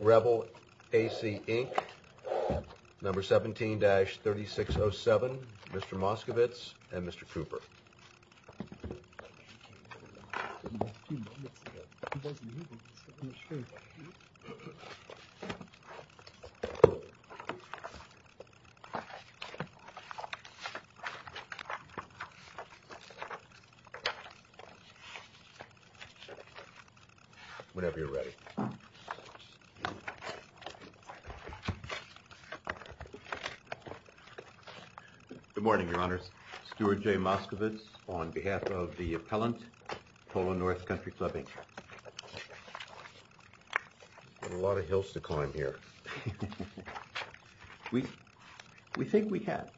Rebel AC Inc number 17 dash 3607. Mr. Moskovitz and mr. Cooper Whenever you're ready Good Morning your honors Stuart J Moskovitz on behalf of the appellant Polo North Country Club Inc a Lot of hills to climb here We we think we have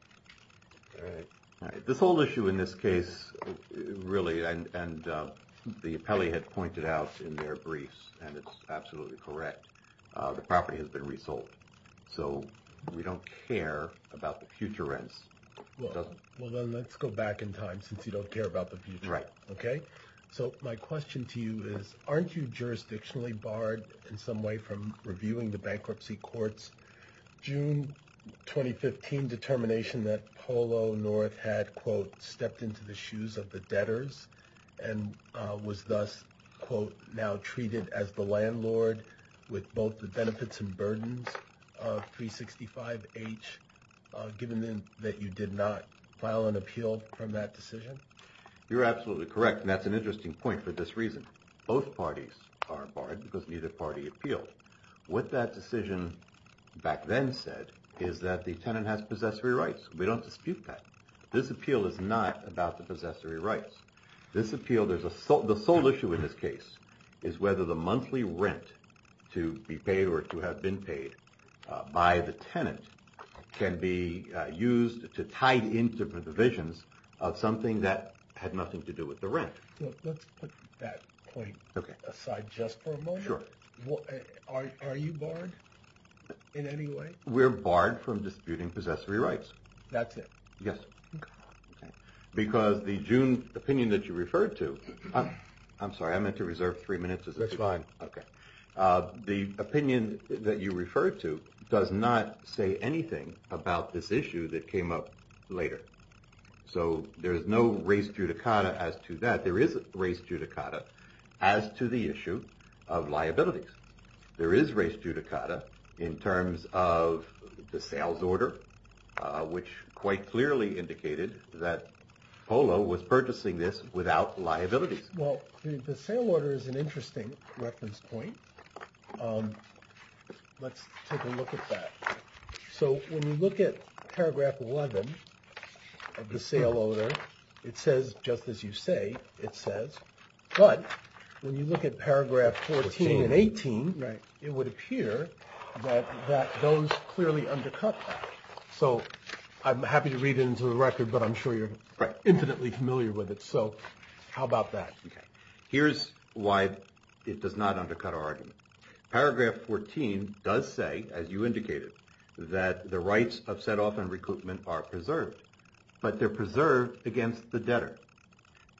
This whole issue in this case really and The appellee had pointed out in their briefs and it's absolutely correct The property has been resold so we don't care about the future rents Well, then let's go back in time since you don't care about the future, right? Okay, so my question to you is aren't you jurisdictionally barred in some way from reviewing the bankruptcy courts? June 2015 determination that Polo North had quote stepped into the shoes of the debtors and Was thus quote now treated as the landlord with both the benefits and burdens 365 H Given them that you did not file an appeal from that decision You're absolutely correct and that's an interesting point for this reason both parties are barred because neither party appealed what that decision Back then said is that the tenant has possessory rights? We don't dispute that this appeal is not about the possessory rights this appeal There's a salt the sole issue in this case is whether the monthly rent to be paid or to have been paid by the tenant Can be used to tie the into the divisions of something that had nothing to do with the rent Let's put that point aside just for a moment. Are you barred in any way? We're barred from disputing possessory rights. That's it. Yes Because the June opinion that you referred to I'm sorry. I meant to reserve three minutes as it's fine. Okay The opinion that you referred to does not say anything about this issue that came up later So there's no race judicata as to that there is a race judicata as to the issue of Liabilities, there is race judicata in terms of the sales order Which quite clearly indicated that Polo was purchasing this without liabilities Well, the sale order is an interesting reference point Let's take a look at that so when we look at paragraph 11 The sale order it says just as you say it says But when you look at paragraph 14 and 18, right, it would appear that Those clearly undercut that so I'm happy to read it into the record, but I'm sure you're right infinitely familiar with it So how about that? Okay. Here's why it does not undercut our argument Paragraph 14 does say as you indicated that the rights of set-off and recruitment are preserved But they're preserved against the debtor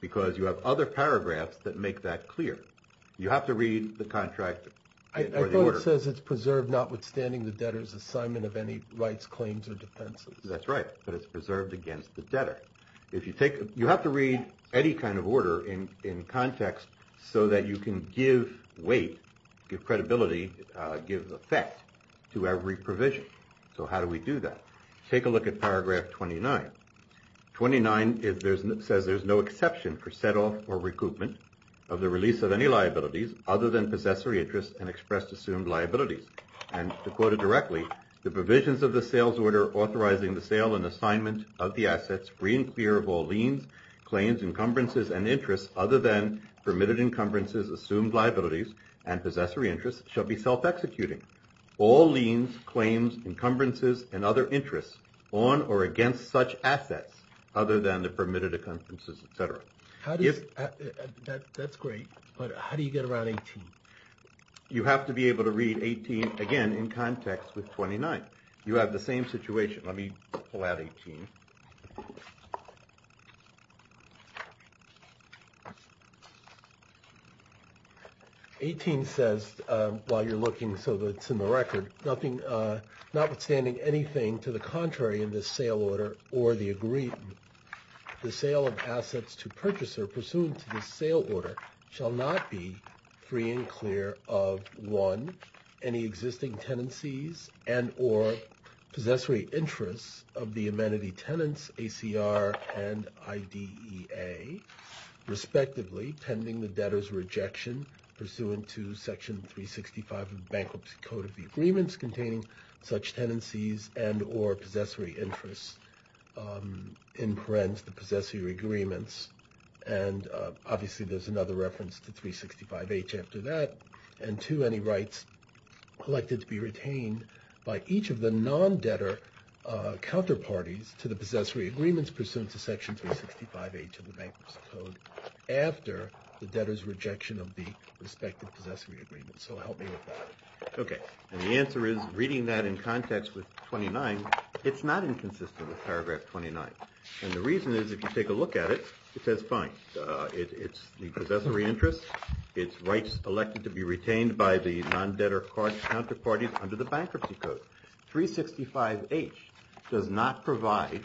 Because you have other paragraphs that make that clear you have to read the contractor I thought it says it's preserved notwithstanding the debtors assignment of any rights claims or defenses That's right But it's preserved against the debtor if you take you have to read any kind of order in in Context so that you can give weight give credibility give effect to every provision So, how do we do that take a look at paragraph 29 29 is there's an it says there's no exception for set-off or recoupment of the release of any liabilities other than possessory interest and expressed assumed liabilities and to quote it directly the provisions of the sales order authorizing the sale and assignment of the assets free and clear of all liens claims encumbrances and interests other than permitted encumbrances assumed liabilities and possessory interests shall be self-executing all liens claims encumbrances and other interests on or against such assets other than the permitted occurrences, etc How do you? That's great. But how do you get around 18? You have to be able to read 18 again in context with 29. You have the same situation. Let me pull out 18 18 Says while you're looking so that's in the record nothing Not withstanding anything to the contrary in this sale order or the agreed the sale of assets to purchaser pursuant to the sale order shall not be free and clear of one any existing tenancies and or Possessory interests of the amenity tenants ACR and IDE a respectively pending the debtors rejection pursuant to section 365 of bankruptcy code of the agreements containing such tenancies and or possessory interests in parents the possessory agreements and Obviously, there's another reference to 365 H after that and to any rights Collected to be retained by each of the non-debtor counterparties to the possessory agreements pursuant to section 365 H of the bankruptcy code After the debtors rejection of the respective possessory agreements, so help me with that Okay, and the answer is reading that in context with 29 It's not inconsistent with paragraph 29 and the reason is if you take a look at it, it says fine It's the possessory interest its rights elected to be retained by the non-debtor card counterparties under the bankruptcy code 365 H does not provide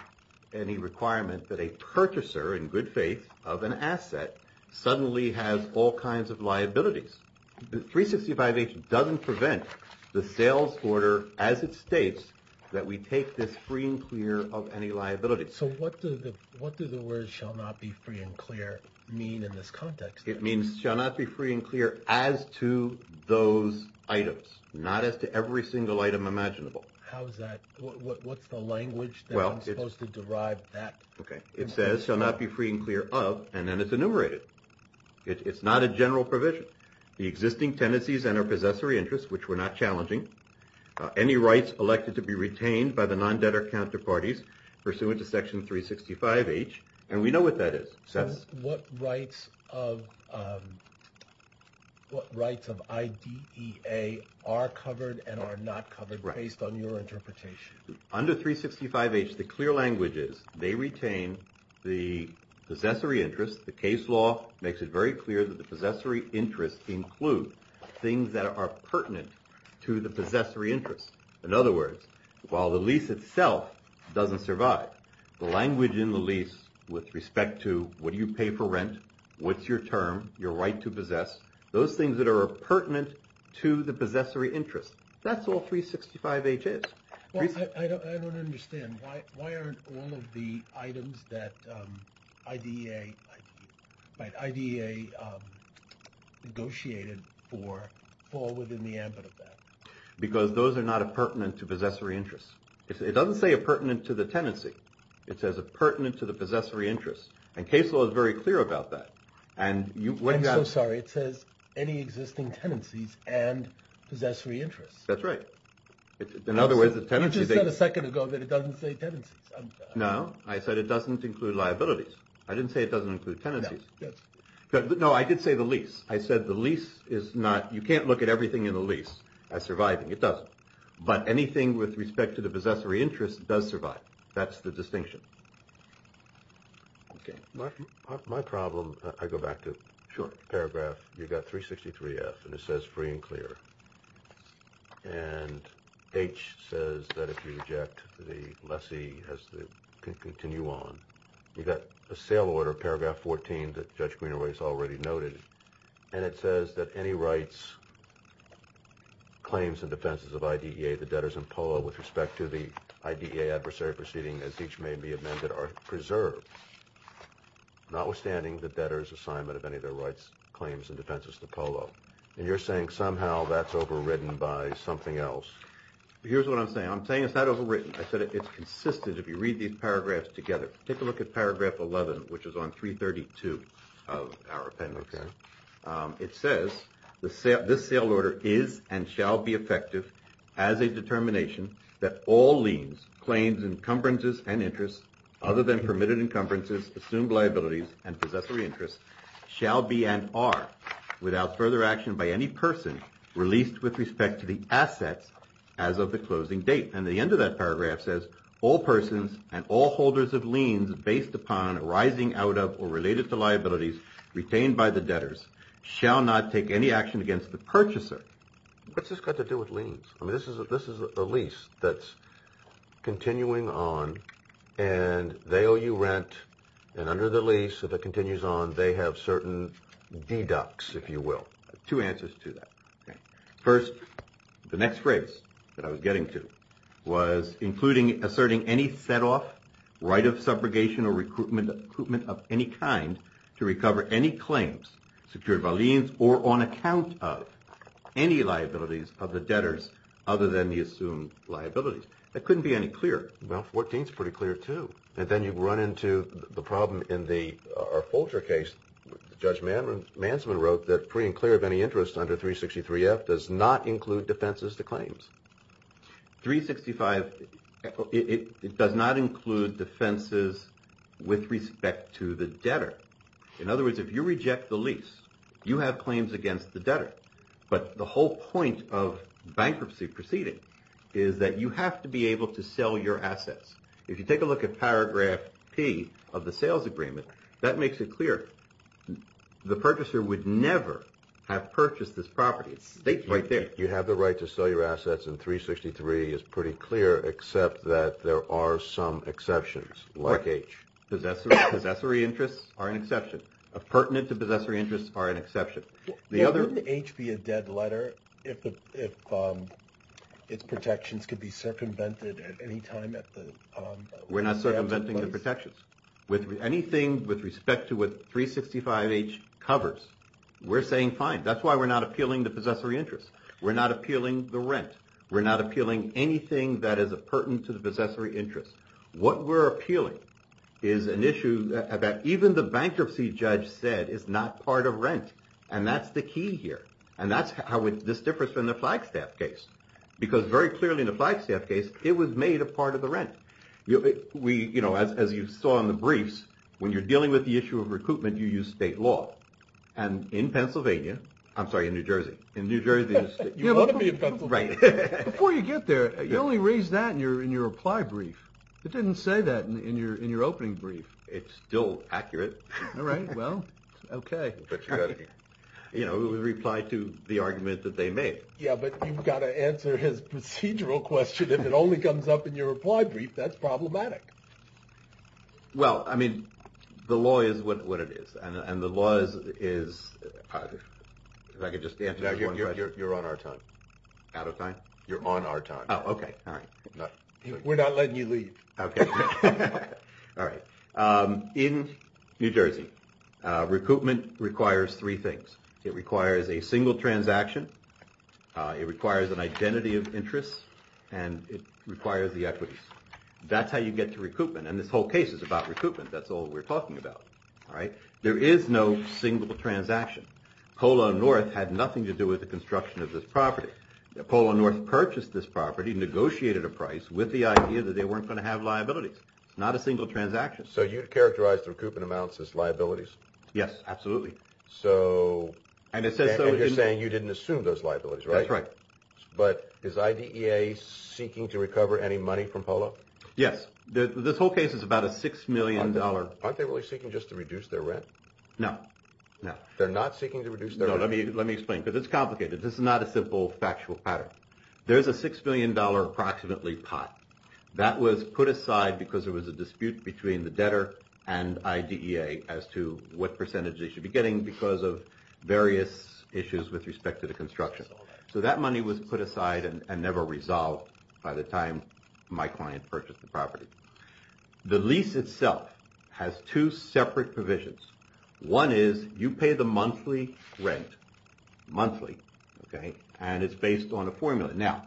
any requirement that a purchaser in good faith of an asset Suddenly has all kinds of liabilities The 365 H doesn't prevent the sales order as it states that we take this free and clear of any liability What do the what do the words shall not be free and clear mean in this context It means shall not be free and clear as to those items not as to every single item imaginable How is that? What's the language? Well, it was to derive that okay It says shall not be free and clear of and then it's enumerated It's not a general provision the existing tendencies and our possessory interests, which were not challenging Any rights elected to be retained by the non-debtor counterparties pursuant to section 365 H and we know what that is so what rights of What rights of ID a are covered and are not covered based on your interpretation under 365 H the clear language is they retain the Possessory interest the case law makes it very clear that the possessory interest include things that are pertinent To the possessory interest in other words while the lease itself Doesn't survive the language in the lease with respect to what do you pay for rent? What's your term your right to possess those things that are pertinent to the possessory interest? That's all 365 H is Understand why why aren't all of the items that ID a by ID a Negotiated for fall within the ambit of that because those are not a pertinent to possessory interest It doesn't say a pertinent to the tenancy it says a pertinent to the possessory interest and case law is very clear about that and You wouldn't I'm sorry. It says any existing tendencies and Possessory interest, that's right In other words the tenancy the second ago that it doesn't say tenancies. No, I said it doesn't include liabilities I didn't say it doesn't include tenancies. Yes, but no I did say the lease I said the lease is not you can't look at everything in the lease as surviving It doesn't but anything with respect to the possessory interest does survive. That's the distinction Okay, my problem I go back to short paragraph you've got 363 F and it says free and clear and H says that if you reject the lessee has to Continue on you got a sale order paragraph 14 that judge greener ways already noted and it says that any rights Claims and defenses of ID a the debtors and polo with respect to the ID a adversary proceeding as each may be amended are preserved Not withstanding the debtors assignment of any of their rights claims and defenses to polo and you're saying somehow that's overridden by something else Here's what I'm saying. I'm saying it's not overwritten I said it's consistent if you read these paragraphs together take a look at paragraph 11, which is on 332 of our appendix It says the set this sale order is and shall be effective as a determination That all liens claims encumbrances and interest other than permitted encumbrances assumed liabilities and possessory interest shall be and are without further action by any person released with respect to the assets as of the closing date and the end of that paragraph says all persons and all holders of liens based upon Arising out of or related to liabilities retained by the debtors shall not take any action against the purchaser What's this got to do with liens, I mean, this is a this is a lease that's continuing on and They owe you rent and under the lease if it continues on they have certain Deducts if you will two answers to that first the next phrase that I was getting to was Including asserting any set off right of subrogation or recruitment recruitment of any kind to recover any claims secured by liens or on account of Any liabilities of the debtors other than the assumed liabilities that couldn't be any clearer Well 14 is pretty clear too, and then you've run into the problem in the our Folger case Judge Manman Manson wrote that free and clear of any interest under 363 F does not include defenses to claims 365 It does not include defenses With respect to the debtor in other words if you reject the lease you have claims against the debtor but the whole point of Bankruptcy proceeding is that you have to be able to sell your assets if you take a look at paragraph P of the sales agreement That makes it clear The purchaser would never have purchased this property. It's state right there You have the right to sell your assets and 363 is pretty clear except that there are some exceptions like H Possessory interests are an exception of pertinent to possessory interests are an exception the other H be a dead letter if Its protections could be circumvented at any time at the We're not circumventing the protections with anything with respect to with 365 H covers We're saying fine. That's why we're not appealing the possessory interest. We're not appealing the rent We're not appealing anything that is a pertinent to the possessory interest what we're appealing is An issue about even the bankruptcy judge said it's not part of rent And that's the key here And that's how it's this difference from the Flagstaff case because very clearly in the Flagstaff case it was made a part of the rent you know we you know as you saw in the briefs when you're dealing with the issue of recoupment you use state law and In Pennsylvania, I'm sorry in New Jersey in New Jersey Right before you get there you only raise that and you're in your reply brief It didn't say that in your in your opening brief. It's still accurate all right well, okay, but You know we reply to the argument that they made yeah, but you've got to answer his procedural question If it only comes up in your reply brief, that's problematic well, I mean the law is what what it is and the laws is If I could just answer you're on our time out of time you're on our time, okay, all right We're not letting you leave, okay All right in New Jersey Recoupment requires three things it requires a single transaction It requires an identity of interest and it requires the equities That's how you get to recoupment and this whole case is about recoupment. That's all we're talking about all right There is no single transaction Polo North had nothing to do with the construction of this property Polo North purchased this property negotiated a price with the idea that they weren't going to have liabilities It's not a single transaction, so you'd characterize the recoupment amounts as liabilities. Yes, absolutely so And it says so you're saying you didn't assume those liabilities, right right, but is IDEA seeking to recover any money from Polo Yes, this whole case is about a six million dollar aren't they really seeking just to reduce their rent no No, they're not seeking to reduce there. Let me let me explain because it's complicated. This is not a simple factual pattern There's a six million dollar approximately pot that was put aside because there was a dispute between the debtor and IDEA as to what percentage they should be getting because of various issues with respect to the construction So that money was put aside and never resolved by the time my client purchased the property The lease itself has two separate provisions one is you pay the monthly rent Monthly, okay, and it's based on a formula now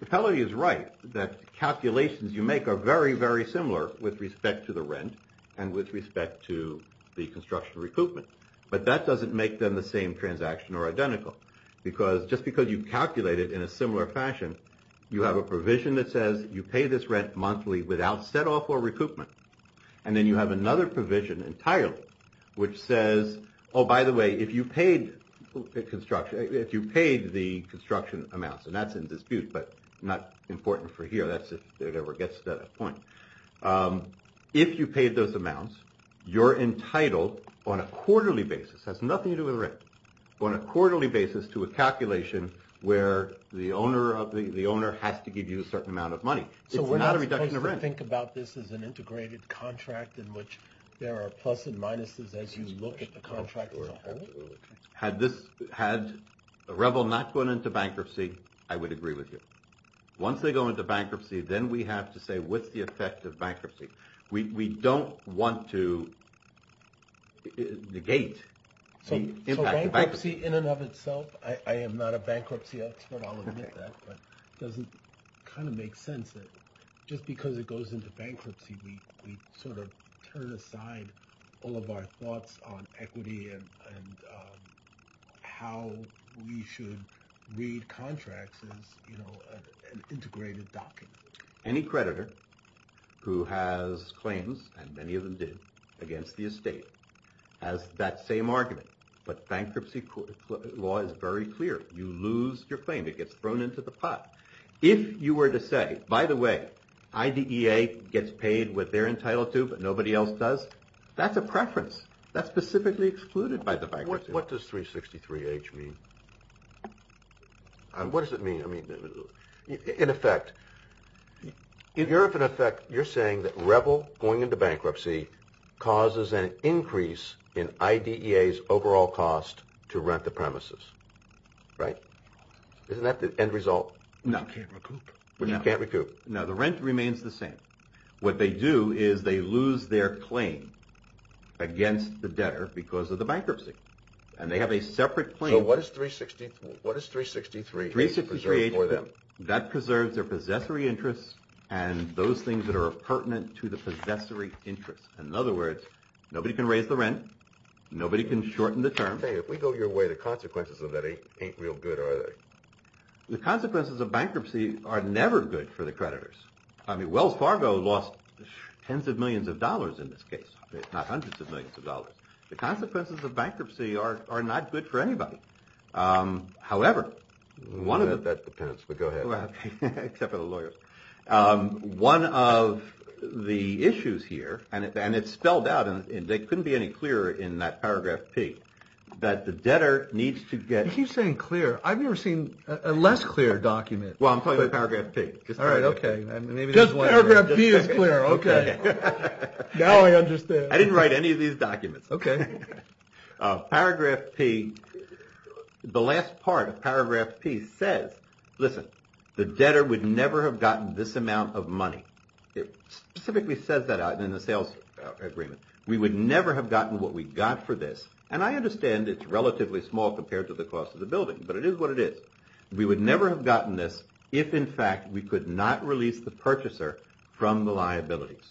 the teller is right that Calculations you make are very very similar with respect to the rent and with respect to the construction recoupment But that doesn't make them the same transaction or identical because just because you calculate it in a similar fashion You have a provision that says you pay this rent monthly without set off or recoupment And then you have another provision entirely which says oh by the way if you paid Construction if you paid the construction amounts and that's in dispute, but not important for here. That's if it ever gets to that point If you paid those amounts You're entitled on a quarterly basis has nothing to do with rent on a quarterly basis to a calculation Where the owner of the the owner has to give you a certain amount of money, so we're not a reduction of rent Think about this as an integrated contract in which there are pluses and minuses as you look at the contract Had this had a rebel not going into bankruptcy. I would agree with you once they go into bankruptcy Then we have to say what's the effect of bankruptcy? We don't want to Negate Bankruptcy in and of itself I am NOT a bankruptcy expert I'll admit that but doesn't kind of make sense it just because it goes into bankruptcy we sort of turn aside all of our thoughts on equity and How we should read contracts is you know an integrated document any creditor Who has claims and many of them did against the estate as that same argument? But bankruptcy court law is very clear you lose your claim It gets thrown into the pot if you were to say by the way IDEA gets paid what they're entitled to but nobody else does that's a preference that's specifically excluded by the bank What what does 363 H mean? What does it mean I mean in effect If you're of an effect, you're saying that rebel going into bankruptcy Causes an increase in IDEA's overall cost to rent the premises right Isn't that the end result? No We can't recoup now the rent remains the same what they do is they lose their claim Against the debtor because of the bankruptcy and they have a separate claim. What is 360? What is 363? 363 or them that preserves their possessory interests and those things that are pertinent to the possessory interest And in other words, nobody can raise the rent Nobody can shorten the term. Hey, if we go your way the consequences of that ain't real good, are they? The consequences of bankruptcy are never good for the creditors. I mean Wells Fargo lost Tens of millions of dollars in this case. It's not hundreds of millions of dollars. The consequences of bankruptcy are not good for anybody However, one of the One of The issues here and it's spelled out and they couldn't be any clearer in that paragraph P That the debtor needs to get he's saying clear. I've never seen a less clear document. Well, I'm talking about paragraph P I didn't write any of these documents. Okay paragraph P The last part of paragraph P says listen the debtor would never have gotten this amount of money It specifically says that out in the sales Agreement, we would never have gotten what we got for this and I understand it's relatively small compared to the cost of the building But it is what it is We would never have gotten this if in fact we could not release the purchaser from the liabilities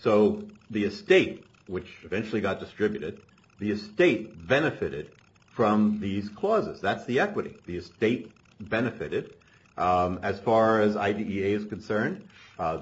So the estate which eventually got distributed the estate benefited From these clauses, that's the equity the estate benefited As far as IDEA is concerned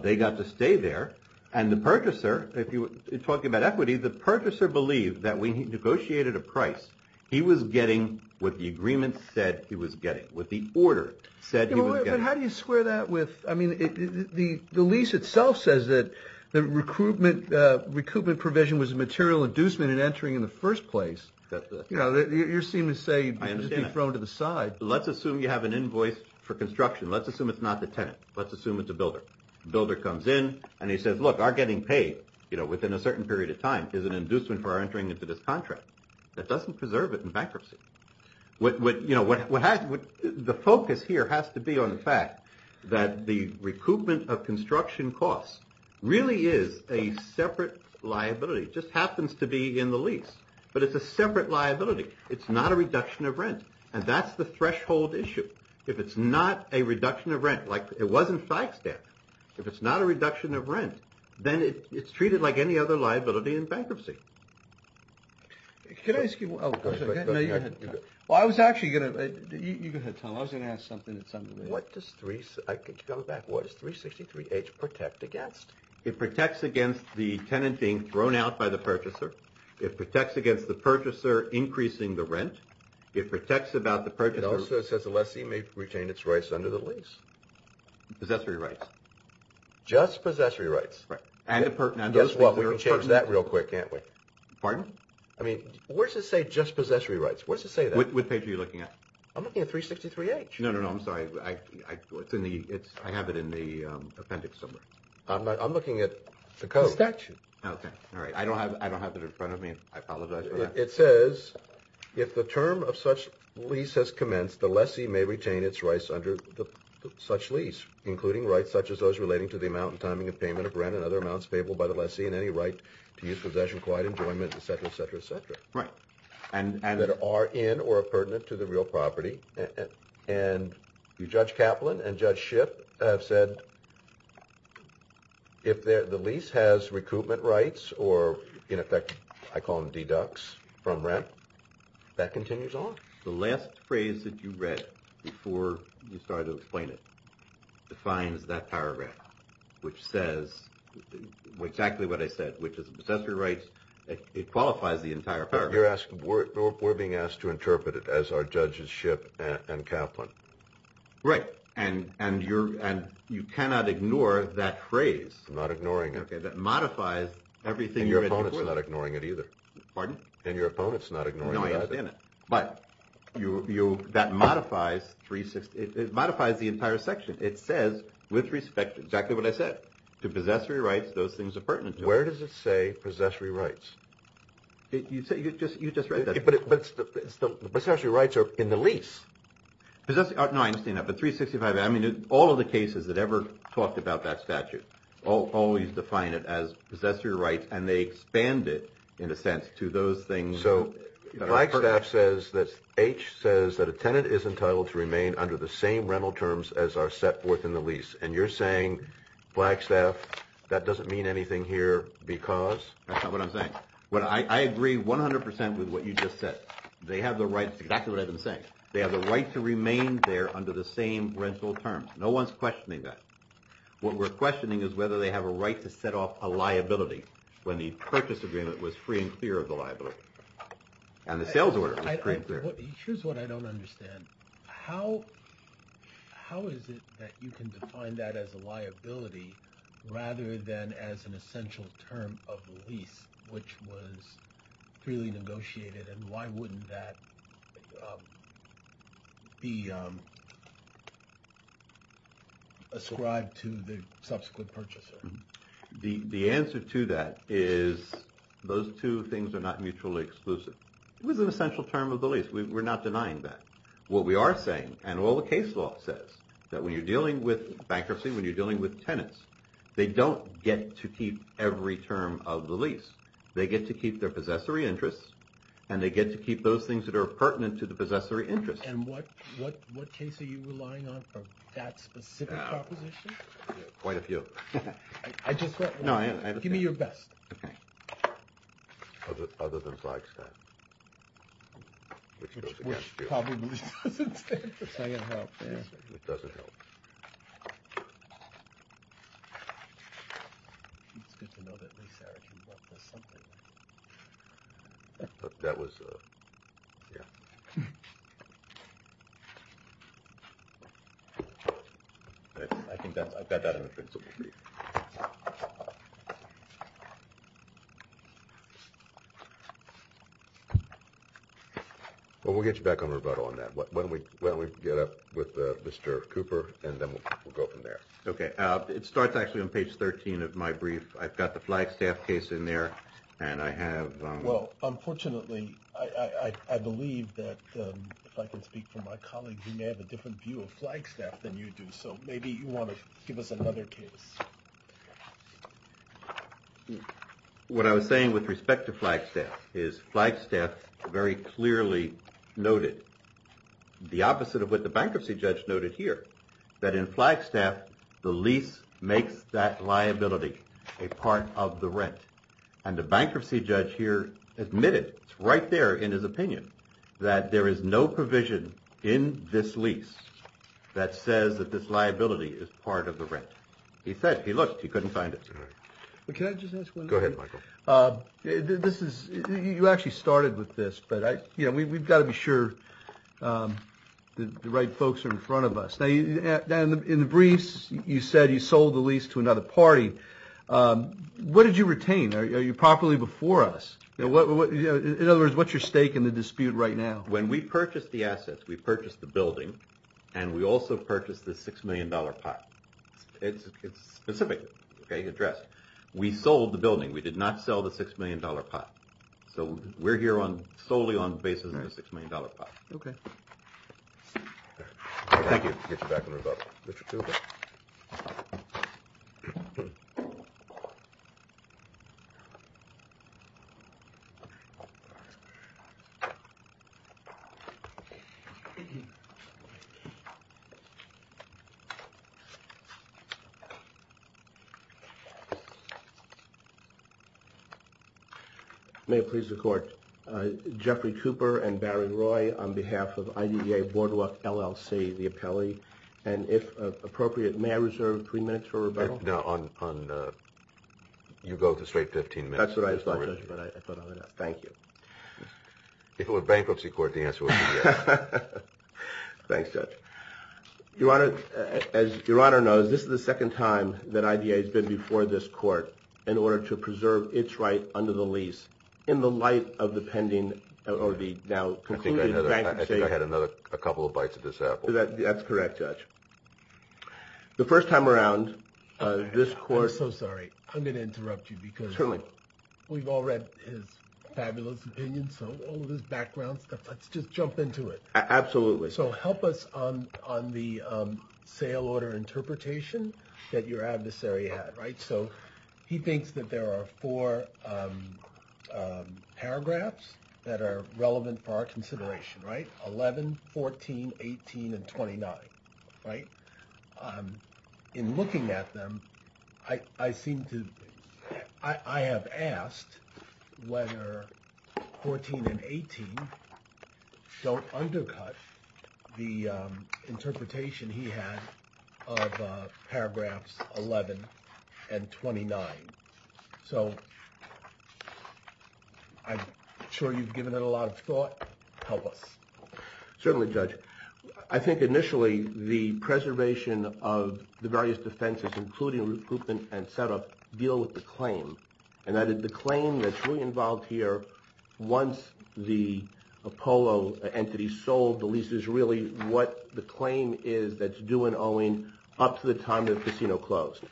They got to stay there and the purchaser if you talk about equity the purchaser believed that we negotiated a price He was getting what the agreement said he was getting what the order said How do you square that with I mean the the lease itself says that the recruitment? Recoupment provision was a material inducement in entering in the first place Yeah, you're seeming to say I understand thrown to the side. Let's assume you have an invoice for construction Let's assume it's not the tenant Let's assume it's a builder Builder comes in and he says look are getting paid You know within a certain period of time is an inducement for our entering into this contract that doesn't preserve it in bankruptcy What would you know? What would the focus here has to be on the fact that the recoupment of construction costs really is a separate? Liability just happens to be in the lease, but it's a separate liability It's not a reduction of rent and that's the threshold issue If it's not a reduction of rent like it wasn't five step if it's not a reduction of rent Then it's treated like any other liability in bankruptcy Can I ask you Well, I was actually gonna You go ahead Tom I was gonna ask something it's something what does three I could go back What is 363 H protect against it protects against the tenant being thrown out by the purchaser it protects against the purchaser? Increasing the rent it protects about the purchase. It also says the lessee may retain its rights under the lease possessory rights Just possessory rights right and a pertinent. That's what we change that real quick. Can't we pardon? I mean, where's it say just possessory rights? What's to say that what page are you looking at? I'm looking at 363 H. No, no. No, I'm sorry. I It's in the it's I have it in the appendix somewhere. I'm looking at the cost action. Okay. All right I don't have I don't have that in front of me. I apologize It says if the term of such lease has commenced the lessee may retain its rights under the such lease Including rights such as those relating to the amount and timing of payment of rent and other amounts payable by the lessee in any right To use possession quiet enjoyment, etc, etc, etc Right and and that are in or a pertinent to the real property and and you judge Kaplan and judge ship have said If they're the lease has recoupment rights or in effect I call them deducts from rent That continues on the last phrase that you read before you started to explain it defines that paragraph which says Exactly what I said, which is accessory rights It qualifies the entire paragraph you're asking we're being asked to interpret it as our judges ship and Kaplan Right, and and you're and you cannot ignore that phrase. I'm not ignoring it Okay that modifies everything your opponents are not ignoring it either pardon and your opponents not ignore No, I understand it But you you that modifies 360 it modifies the entire section It says with respect to exactly what I said to possessory rights. Those things are pertinent. Where does it say possessory rights? You say you just you just read that but it puts the possessory rights are in the lease Because that's not nice enough at 365 I mean all of the cases that ever talked about that statute I'll always define it as possessory rights and they expand it in a sense to those things Staff says that H says that a tenant is entitled to remain under the same rental terms as our set forth in the lease and you're Saying black staff that doesn't mean anything here because that's not what I'm saying What I agree 100% with what you just said they have the rights exactly what I've been saying They have the right to remain there under the same rental terms. No one's questioning that What we're questioning is whether they have a right to set off a liability when the purchase agreement was free and clear of the liability and the sales order How How is it that you can define that as a liability? Rather than as an essential term of the lease which was Freely negotiated and why wouldn't that? Be Ascribed to the subsequent purchaser the the answer to that is Those two things are not mutually exclusive It was an essential term of the lease We're not denying that what we are saying and all the case law says that when you're dealing with bankruptcy when you're dealing with tenants They don't get to keep every term of the lease They get to keep their possessory interests and they get to keep those things that are pertinent to the possessory interest Quite a few No, I give me your best Well We'll get you back on rebuttal on that what when we when we get up with mr. Cooper and then we'll go from there Okay, it starts actually on page 13 of my brief. I've got the flagstaff case in there and I have well, unfortunately I Believe that if I can speak for my colleagues, you may have a different view of flagstaff than you do So maybe you want to give us another case What I was saying with respect to flagstaff is flagstaff very clearly noted the opposite of what the bankruptcy judge noted here that in flagstaff the lease makes that liability a Part of the rent and the bankruptcy judge here admitted it's right there in his opinion That there is no provision in this lease That says that this liability is part of the rent He said he looked he couldn't find it This is you actually started with this but I yeah, we've got to be sure The right folks are in front of us. They then in the briefs you said you sold the lease to another party What did you retain? Are you properly before us? In other words, what's your stake in the dispute right now when we purchased the assets? We purchased the building and we also purchased the six million dollar pot It's it's specific. Okay address. We sold the building. We did not sell the six million dollar pot So we're here on solely on basis of the six million dollar pot. Okay You May please the court Jeffrey Cooper and Barry Roy on behalf of IE a boardwalk LLC the appellee and if appropriate may I reserve three minutes for a rebuttal now on You go to straight 15 minutes. That's what I thought. Thank you It will a bankruptcy court the answer Thanks judge Your honor as your honor knows This is the second time that idea has been before this court in order to preserve its right under the lease in the light of the pending RV now Had another a couple of bites of this apple that that's correct judge the first time around This course. Oh, sorry. I'm gonna interrupt you because really we've all read His background stuff, let's just jump into it. Absolutely. So help us on on the Sale order interpretation that your adversary had right? So he thinks that there are four Paragraphs that are relevant for our consideration right 11 14 18 and 29, right? In looking at them. I I seem to I Have asked whether 14 and 18 don't undercut the interpretation he had Paragraphs 11 and 29 so I'm sure you've given it a lot of thought help us Certainly judge. I think initially the preservation of the various defenses including recruitment and setup deal with the claim And I did the claim that's really involved here once the Apollo entity sold the lease is really what the claim is that's due and owing up to the time that casino closed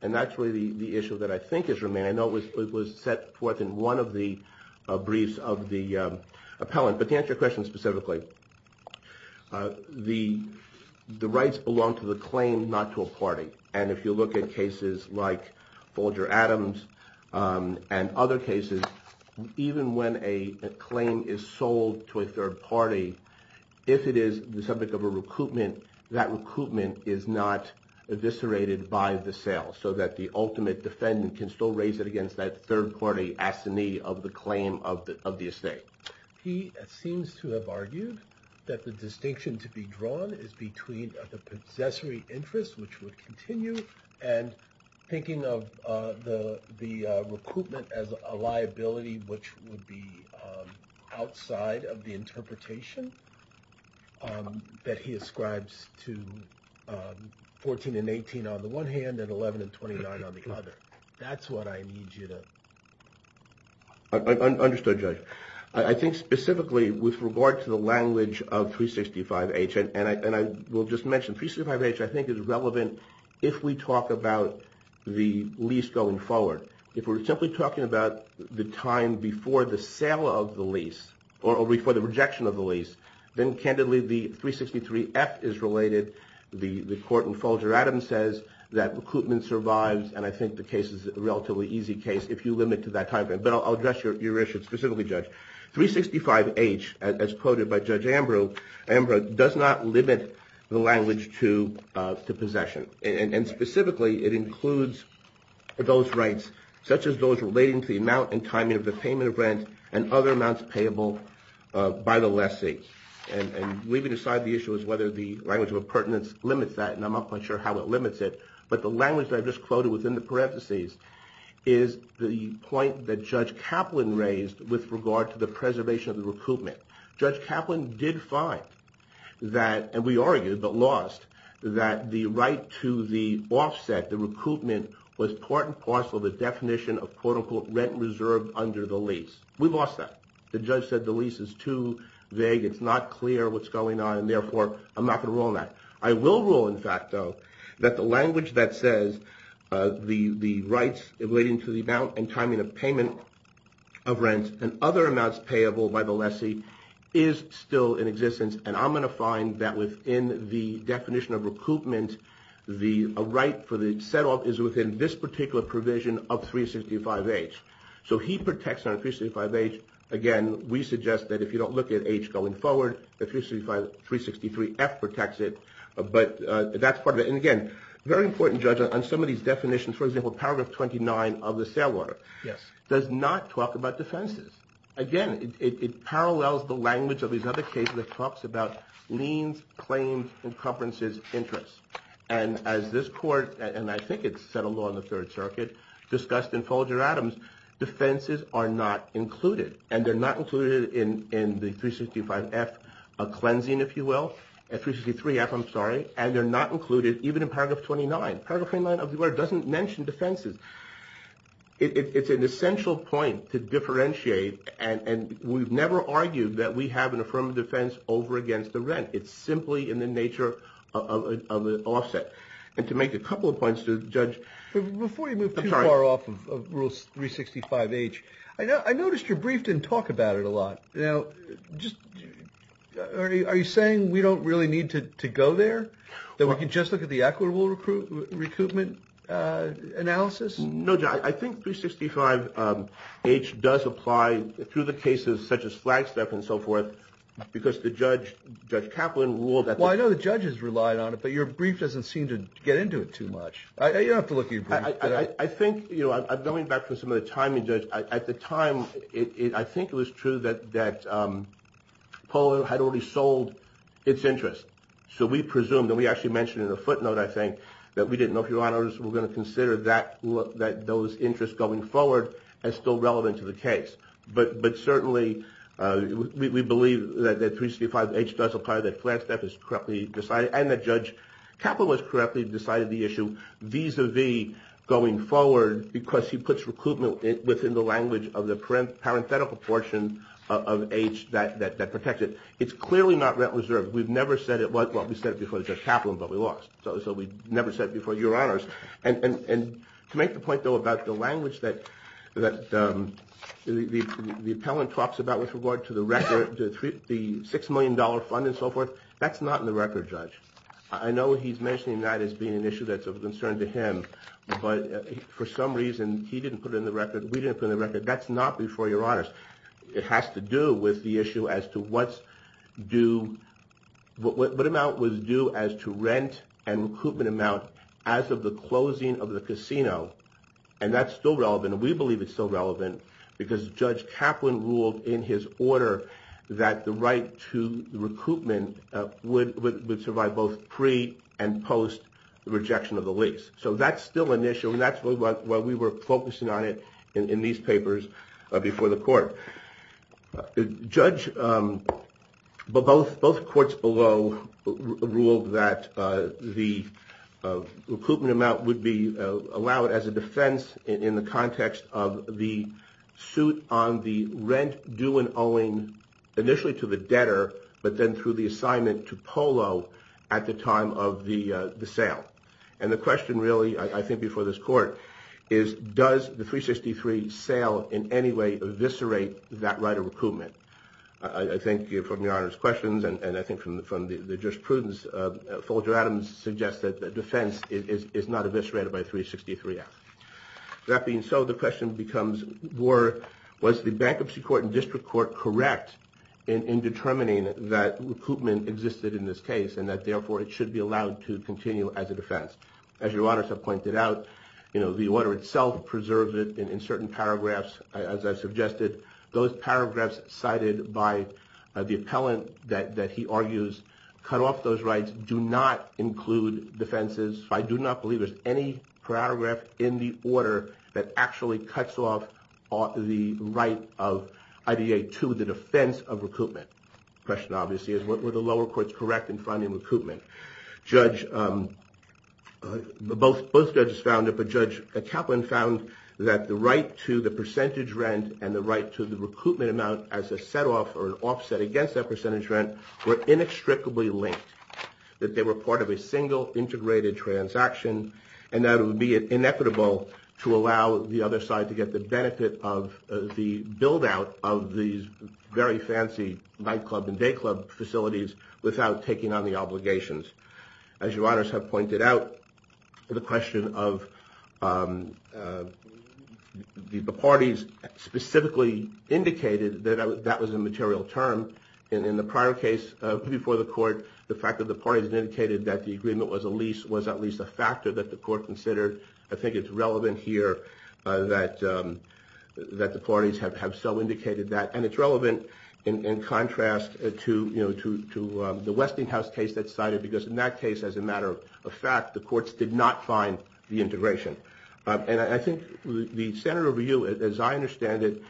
And that's really the issue that I think is remaining. I know it was it was set forth in one of the briefs of the Appellant, but to answer your question specifically The the rights belong to the claim not to a party and if you look at cases like Folger Adams and other cases even when a claim is sold to a third party if it is the subject of a recoupment that recoupment is not Eviscerated by the sale so that the ultimate defendant can still raise it against that third-party Ascini of the claim of the of the estate he seems to have argued that the distinction to be drawn is between the possessory interest which would continue and Thinking of the the recoupment as a liability which would be outside of the interpretation That he ascribes to 14 and 18 on the one hand and 11 and 29 on the other. That's what I need you to Understood judge I think specifically with regard to the language of 365 H and I and I will just mention 365 H I think is relevant if we talk about the lease going forward if we're simply talking about the time before the sale of the lease or before the rejection of the lease then candidly the 363 F is related the the court and Folger Adams says that recoupment survives And I think the case is a relatively easy case if you limit to that time frame, but I'll address your issue specifically judge 365 H as quoted by Judge Ambrose Ambrose does not limit the language to Possession and specifically it includes Those rights such as those relating to the amount and timing of the payment of rent and other amounts payable by the lessee and Leaving aside the issue is whether the language of a pertinence limits that and I'm not quite sure how it limits it but the language that I've just quoted within the parentheses is The point that judge Kaplan raised with regard to the preservation of the recoupment judge Kaplan did find That and we argued but lost that the right to the offset the recoupment was part and parcel of the definition of Quote-unquote rent reserved under the lease. We've lost that the judge said the lease is too vague It's not clear what's going on. And therefore I'm not going to roll that I will rule in fact, though that the language that says the the rights relating to the amount and timing of payment of And other amounts payable by the lessee is Still in existence and I'm going to find that within the definition of recoupment The right for the set-off is within this particular provision of 365 H So he protects on a 365 H again We suggest that if you don't look at H going forward the 365 363 F protects it But that's part of it. And again very important judge on some of these definitions for example paragraph 29 of the sale order Yes does not talk about defenses again It parallels the language of these other cases that talks about liens claims and conferences interest and as this court And I think it's set a law in the Third Circuit Discussed in Folger Adams Defenses are not included and they're not included in in the 365 F a cleansing if you will at 363 F I'm sorry, and they're not included even in paragraph 29 paragraph 29 of the word doesn't mention defenses It's an essential point to differentiate and and we've never argued that we have an affirmative defense over against the rent It's simply in the nature of the offset and to make a couple of points to judge Before you move to our off of rules 365 H. I know I noticed your brief didn't talk about it a lot. You know, just Are you saying we don't really need to go there that we can just look at the equitable recruit recoupment? Analysis. No, I think 365 H does apply through the cases such as flagstaff and so forth because the judge judge Kaplan ruled that Well, I know the judge has relied on it, but your brief doesn't seem to get into it too much I know you have to look you I think you know I'm going back to some of the timing judge at the time it I think it was true that that Poll had already sold its interest. So we presumed that we actually mentioned in a footnote I think that we didn't know if your honors were going to consider that look that those interests going forward and still relevant to the case, but but certainly We believe that that 365 H does apply that flagstaff is correctly decided and that judge Kaplan was correctly decided the issue visa V going forward because he puts recruitment within the language of the print Parenthetical portion of H that that that protects it. It's clearly not that reserved We've never said it was what we said before the judge Kaplan, but we lost so we never said before your honors and and to make the point though about the language that that The appellant talks about with regard to the record the three the six million dollar fund and so forth That's not in the record judge. I know he's mentioning that as being an issue. That's of concern to him But for some reason he didn't put it in the record. We didn't put in the record. That's not before your honors It has to do with the issue as to what's due What amount was due as to rent and recoupment amount as of the closing of the casino and That's still relevant. We believe it's still relevant because judge Kaplan ruled in his order that the right to Recruitment would survive both pre and post the rejection of the lease So that's still an issue and that's what we were focusing on it in these papers before the court judge But both both courts below ruled that the Recruitment amount would be allowed as a defense in the context of the suit on the rent due and owing initially to the debtor but then through the assignment to polo at the time of the the sale and the question really I think before this court is Does the 363 sale in any way eviscerate that right of recoupment? I think you're from your honors questions and I think from the from the jurisprudence Folger Adams suggested that defense is not eviscerated by 363 F That being so the question becomes were was the bankruptcy court and district court correct in Determining that recoupment existed in this case and that therefore it should be allowed to continue as a defense as your honors have pointed out You know the order itself preserved it in certain paragraphs as I suggested those paragraphs Cited by the appellant that that he argues cut off those rights do not include Defenses I do not believe there's any Paragraph in the order that actually cuts off off the right of IDA to the defense of recoupment Question obviously is what were the lower courts correct in funding recoupment judge? But both both judges found it Found that the right to the percentage rent and the right to the recoupment amount as a setoff or an offset against that percentage rent We're inextricably linked that they were part of a single integrated transaction and that would be an equitable to allow the other side to get the benefit of the build-out of these very Fancy nightclub and dayclub facilities without taking on the obligations as your honors have pointed out The question of The parties Specifically indicated that that was a material term in the prior case Before the court the fact that the parties indicated that the agreement was a lease was at least a factor that the court considered I think it's relevant here that That the parties have have so indicated that and it's relevant in Contrast to you know to the Westinghouse case that cited because in that case as a matter of fact the courts did not find The integration and I think the senator view as I understand it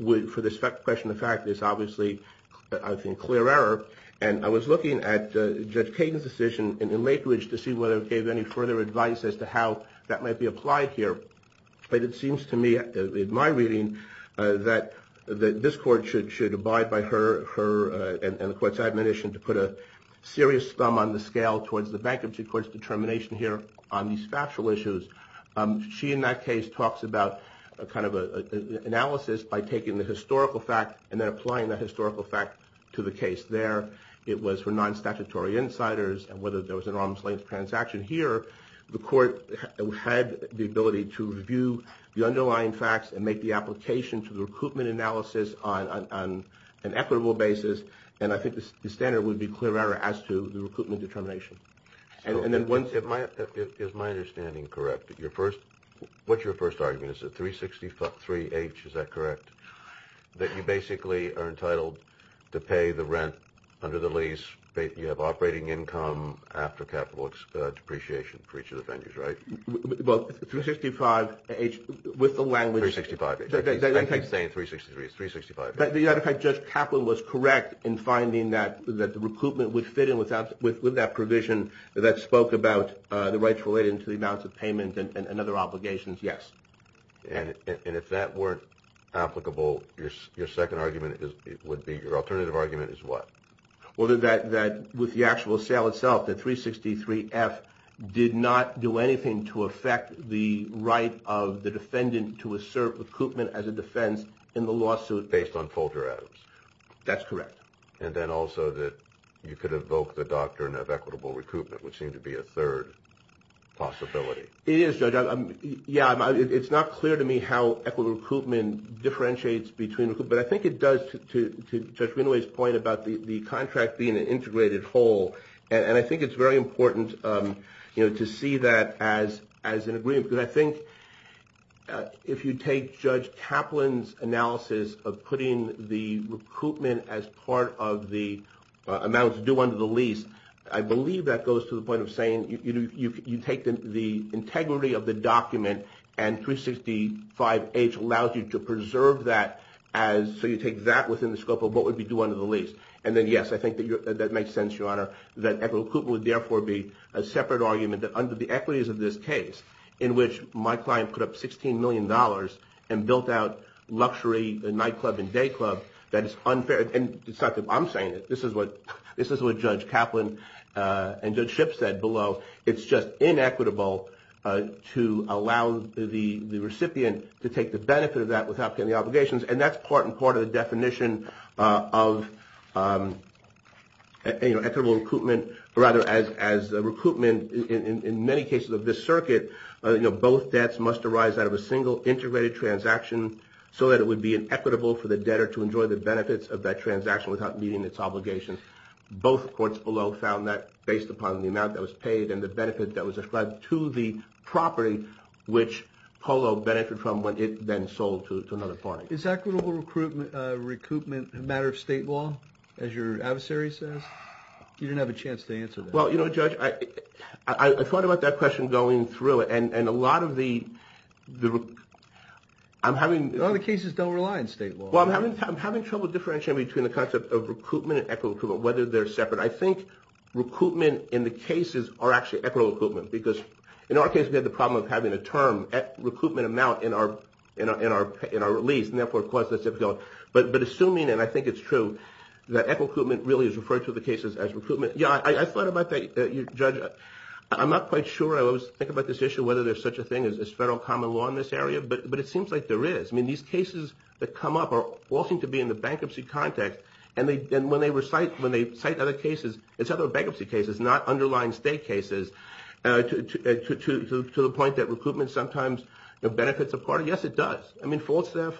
would for this question the fact is obviously I think clear error and I was looking at Judge Caden's decision in the late which to see whether it gave any further advice as to how that might be applied here But it seems to me in my reading That that this court should should abide by her her and the courts admonition to put a Serious thumb on the scale towards the bankruptcy courts determination here on these factual issues she in that case talks about a kind of a Analysis by taking the historical fact and then applying that historical fact to the case there It was for non statutory insiders and whether there was an arm's-length transaction here the court Had the ability to review the underlying facts and make the application to the recoupment analysis on an equitable basis and I think the standard would be clear error as to the recruitment determination and then once it might Is my understanding correct your first? What's your first argument? It's a 360 fuck 3h. Is that correct? That you basically are entitled to pay the rent under the lease You have operating income after capital depreciation for each of the vendors, right? Well 365 H with the language 65 I think I'm saying 363 is 365 but the other fact just Kaplan was correct in finding that that the recoupment would fit in without With with that provision that spoke about the rights related to the amounts of payment and other obligations. Yes And and if that weren't applicable your second argument is it would be your alternative argument is what? Whether that that with the actual sale itself that 363 F Did not do anything to affect the right of the defendant to assert recoupment as a defense in the lawsuit based on folder Adams, that's correct. And then also that you could evoke the doctrine of equitable recoupment which seemed to be a third Possibility it is so done. Yeah, it's not clear to me how equitable recoupment Differentiates between but I think it does to Renoise point about the the contract being an integrated whole and I think it's very important you know to see that as as an agreement, but I think if you take judge Kaplan's analysis of putting the recoupment as part of the amounts due under the lease I believe that goes to the point of saying you take them the integrity of the document and 365 H allows you to preserve that as So you take that within the scope of what would be due under the lease? And then yes I think that makes sense your honor that equitable recoupment would therefore be a separate argument that under the equities of this case in Which my client put up 16 million dollars and built out luxury the nightclub and dayclub that is unfair And it's not that I'm saying it. This is what this is what judge Kaplan And judge ship said below. It's just inequitable To allow the the recipient to take the benefit of that without getting the obligations and that's part and part of the definition of You know equitable recoupment or rather as as a recoupment in many cases of this circuit You know Both debts must arise out of a single integrated transaction So that it would be an equitable for the debtor to enjoy the benefits of that transaction without meeting its obligations Both courts below found that based upon the amount that was paid and the benefit that was described to the property which Polo benefited from when it then sold to another party. It's equitable recruitment Recoupment a matter of state law as your adversary says you didn't have a chance to answer. Well, you know judge I I thought about that question going through it and and a lot of the the I'm having the other cases don't rely on state law Having trouble differentiating between the concept of recruitment and equitable whether they're separate I think Recruitment in the cases are actually equitable equipment because in our case We had the problem of having a term at recoupment amount in our you know In our in our release and therefore cause that's difficult But but assuming and I think it's true that equitable equipment really is referred to the cases as recruitment Yeah, I thought about that you judge it I'm not quite sure I always think about this issue whether there's such a thing as this federal common law in this area but but it seems like there is I mean these cases that come up are all seem to be in the bankruptcy context and They then when they recite when they cite other cases, it's other bankruptcy cases not underlying state cases To the point that recruitment sometimes the benefits of part. Yes, it does. I mean false if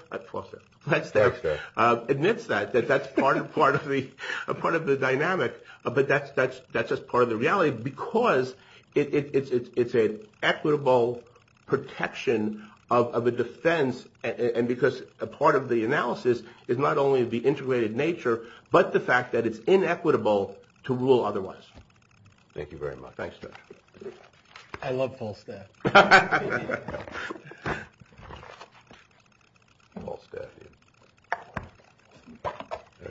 that's there admits that that's part of part of the a part of the dynamic, but that's that's that's just part of the reality because It's it's a equitable Protection of a defense and because a part of the analysis is not only of the integrated nature But the fact that it's inequitable to rule otherwise Thank you very much. Thanks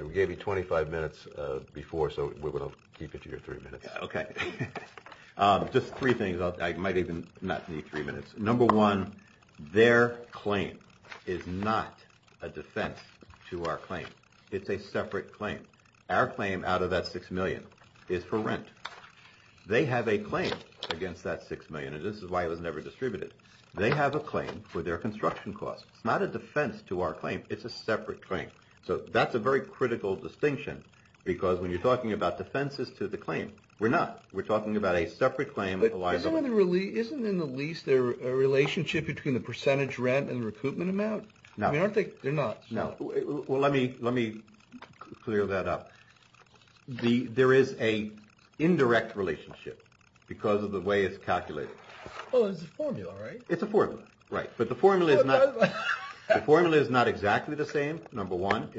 We gave you 25 minutes before so we will keep it to your three minutes, okay? Just three things I might even not need three minutes number one Their claim is not a defense to our claim It's a separate claim our claim out of that six million is for rent They have a claim against that six million and this is why it was never distributed They have a claim for their construction costs. It's not a defense to our claim. It's a separate claim So that's a very critical distinction because when you're talking about defenses to the claim, we're not we're talking about a separate claim Isn't in the lease their relationship between the percentage rent and recoupment amount. No, I don't think they're not no well. Let me let me clear that up the there is a Indirect relationship because of the way, it's calculated It's a formula right, but the formula is not Formula is not exactly the same number one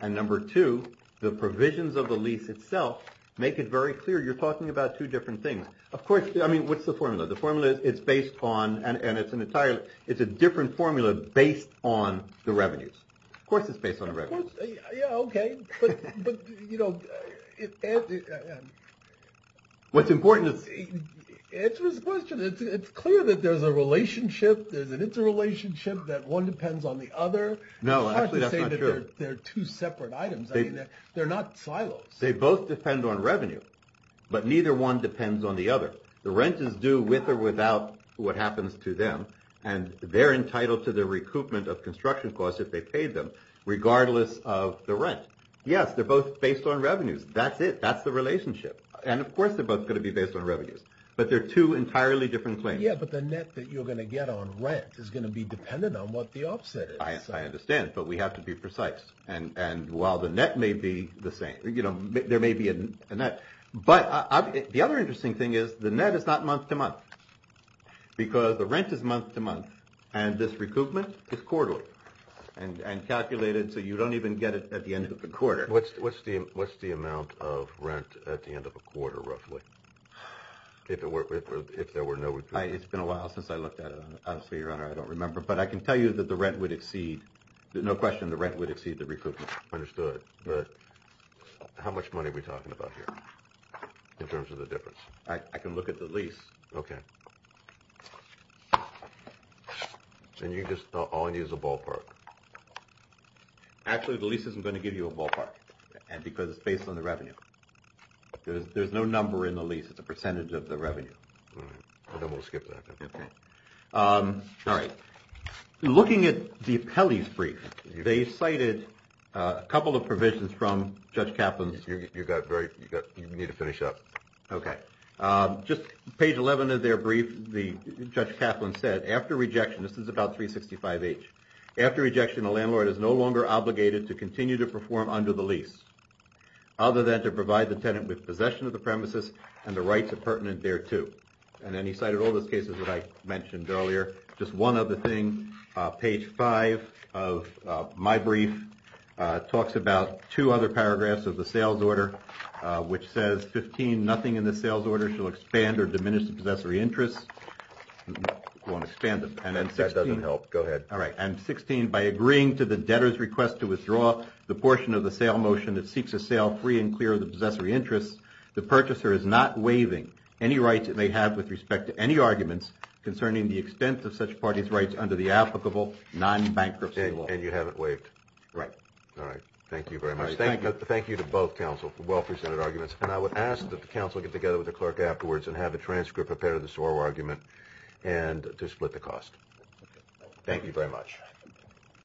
And number two the provisions of the lease itself make it very clear you're talking about two different things, of course I mean, what's the formula the formula is it's based on and and it's an entire it's a different formula based on the revenues Of course, it's based on What's important It's clear that there's a relationship there's an interrelationship that one depends on the other no They're two separate items. They're not silos. They both depend on revenue but neither one depends on the other the rent is due with or without what happens to them and They're entitled to the recoupment of construction costs if they paid them regardless of the rent. Yes, they're both based on revenues That's it. That's the relationship. And of course, they're both going to be based on revenues, but they're two entirely different claims Yeah, but the net that you're going to get on rent is going to be dependent on what the offset is I understand but we have to be precise and and while the net may be the same, you know There may be a net but the other interesting thing is the net is not month-to-month Because the rent is month-to-month and this recoupment is quarterly and and calculated so you don't even get it at the end of the quarter What's what's the what's the amount of rent at the end of a quarter roughly? If it were if there were no, it's been a while since I looked at it. Obviously your honor I don't remember but I can tell you that the rent would exceed. There's no question. The rent would exceed the recoupment understood How much money are we talking about here in terms of the difference? I can look at the lease. Okay And you just thought all I need is a ballpark Actually, the lease isn't going to give you a ballpark and because it's based on the revenue There's no number in the lease. It's a percentage of the revenue Skip that All right Looking at the appellees brief. They cited a couple of provisions from judge Kaplan's you've got very Need to finish up. Okay Just page 11 of their brief. The judge Kaplan said after rejection This is about 365 H after rejection the landlord is no longer obligated to continue to perform under the lease Other than to provide the tenant with possession of the premises and the rights of pertinent thereto And then he cited all those cases that I mentioned earlier. Just one of the things page 5 of my brief Talks about two other paragraphs of the sales order Which says 15 nothing in the sales order shall expand or diminish the possessory interests Won't expand them and then says doesn't help go ahead All right I'm 16 by agreeing to the debtors request to withdraw the portion of the sale motion that seeks a sale free and clear of the Interests the purchaser is not waiving any rights that they have with respect to any arguments Concerning the extent of such parties rights under the applicable non-bankruptcy law and you haven't waived, right? All right. Thank you very much Thank you Thank you to both counsel for well-presented arguments and I would ask that the council get together with the clerk afterwards and have a transcript a pair of this oral argument and to split the cost Thank you very much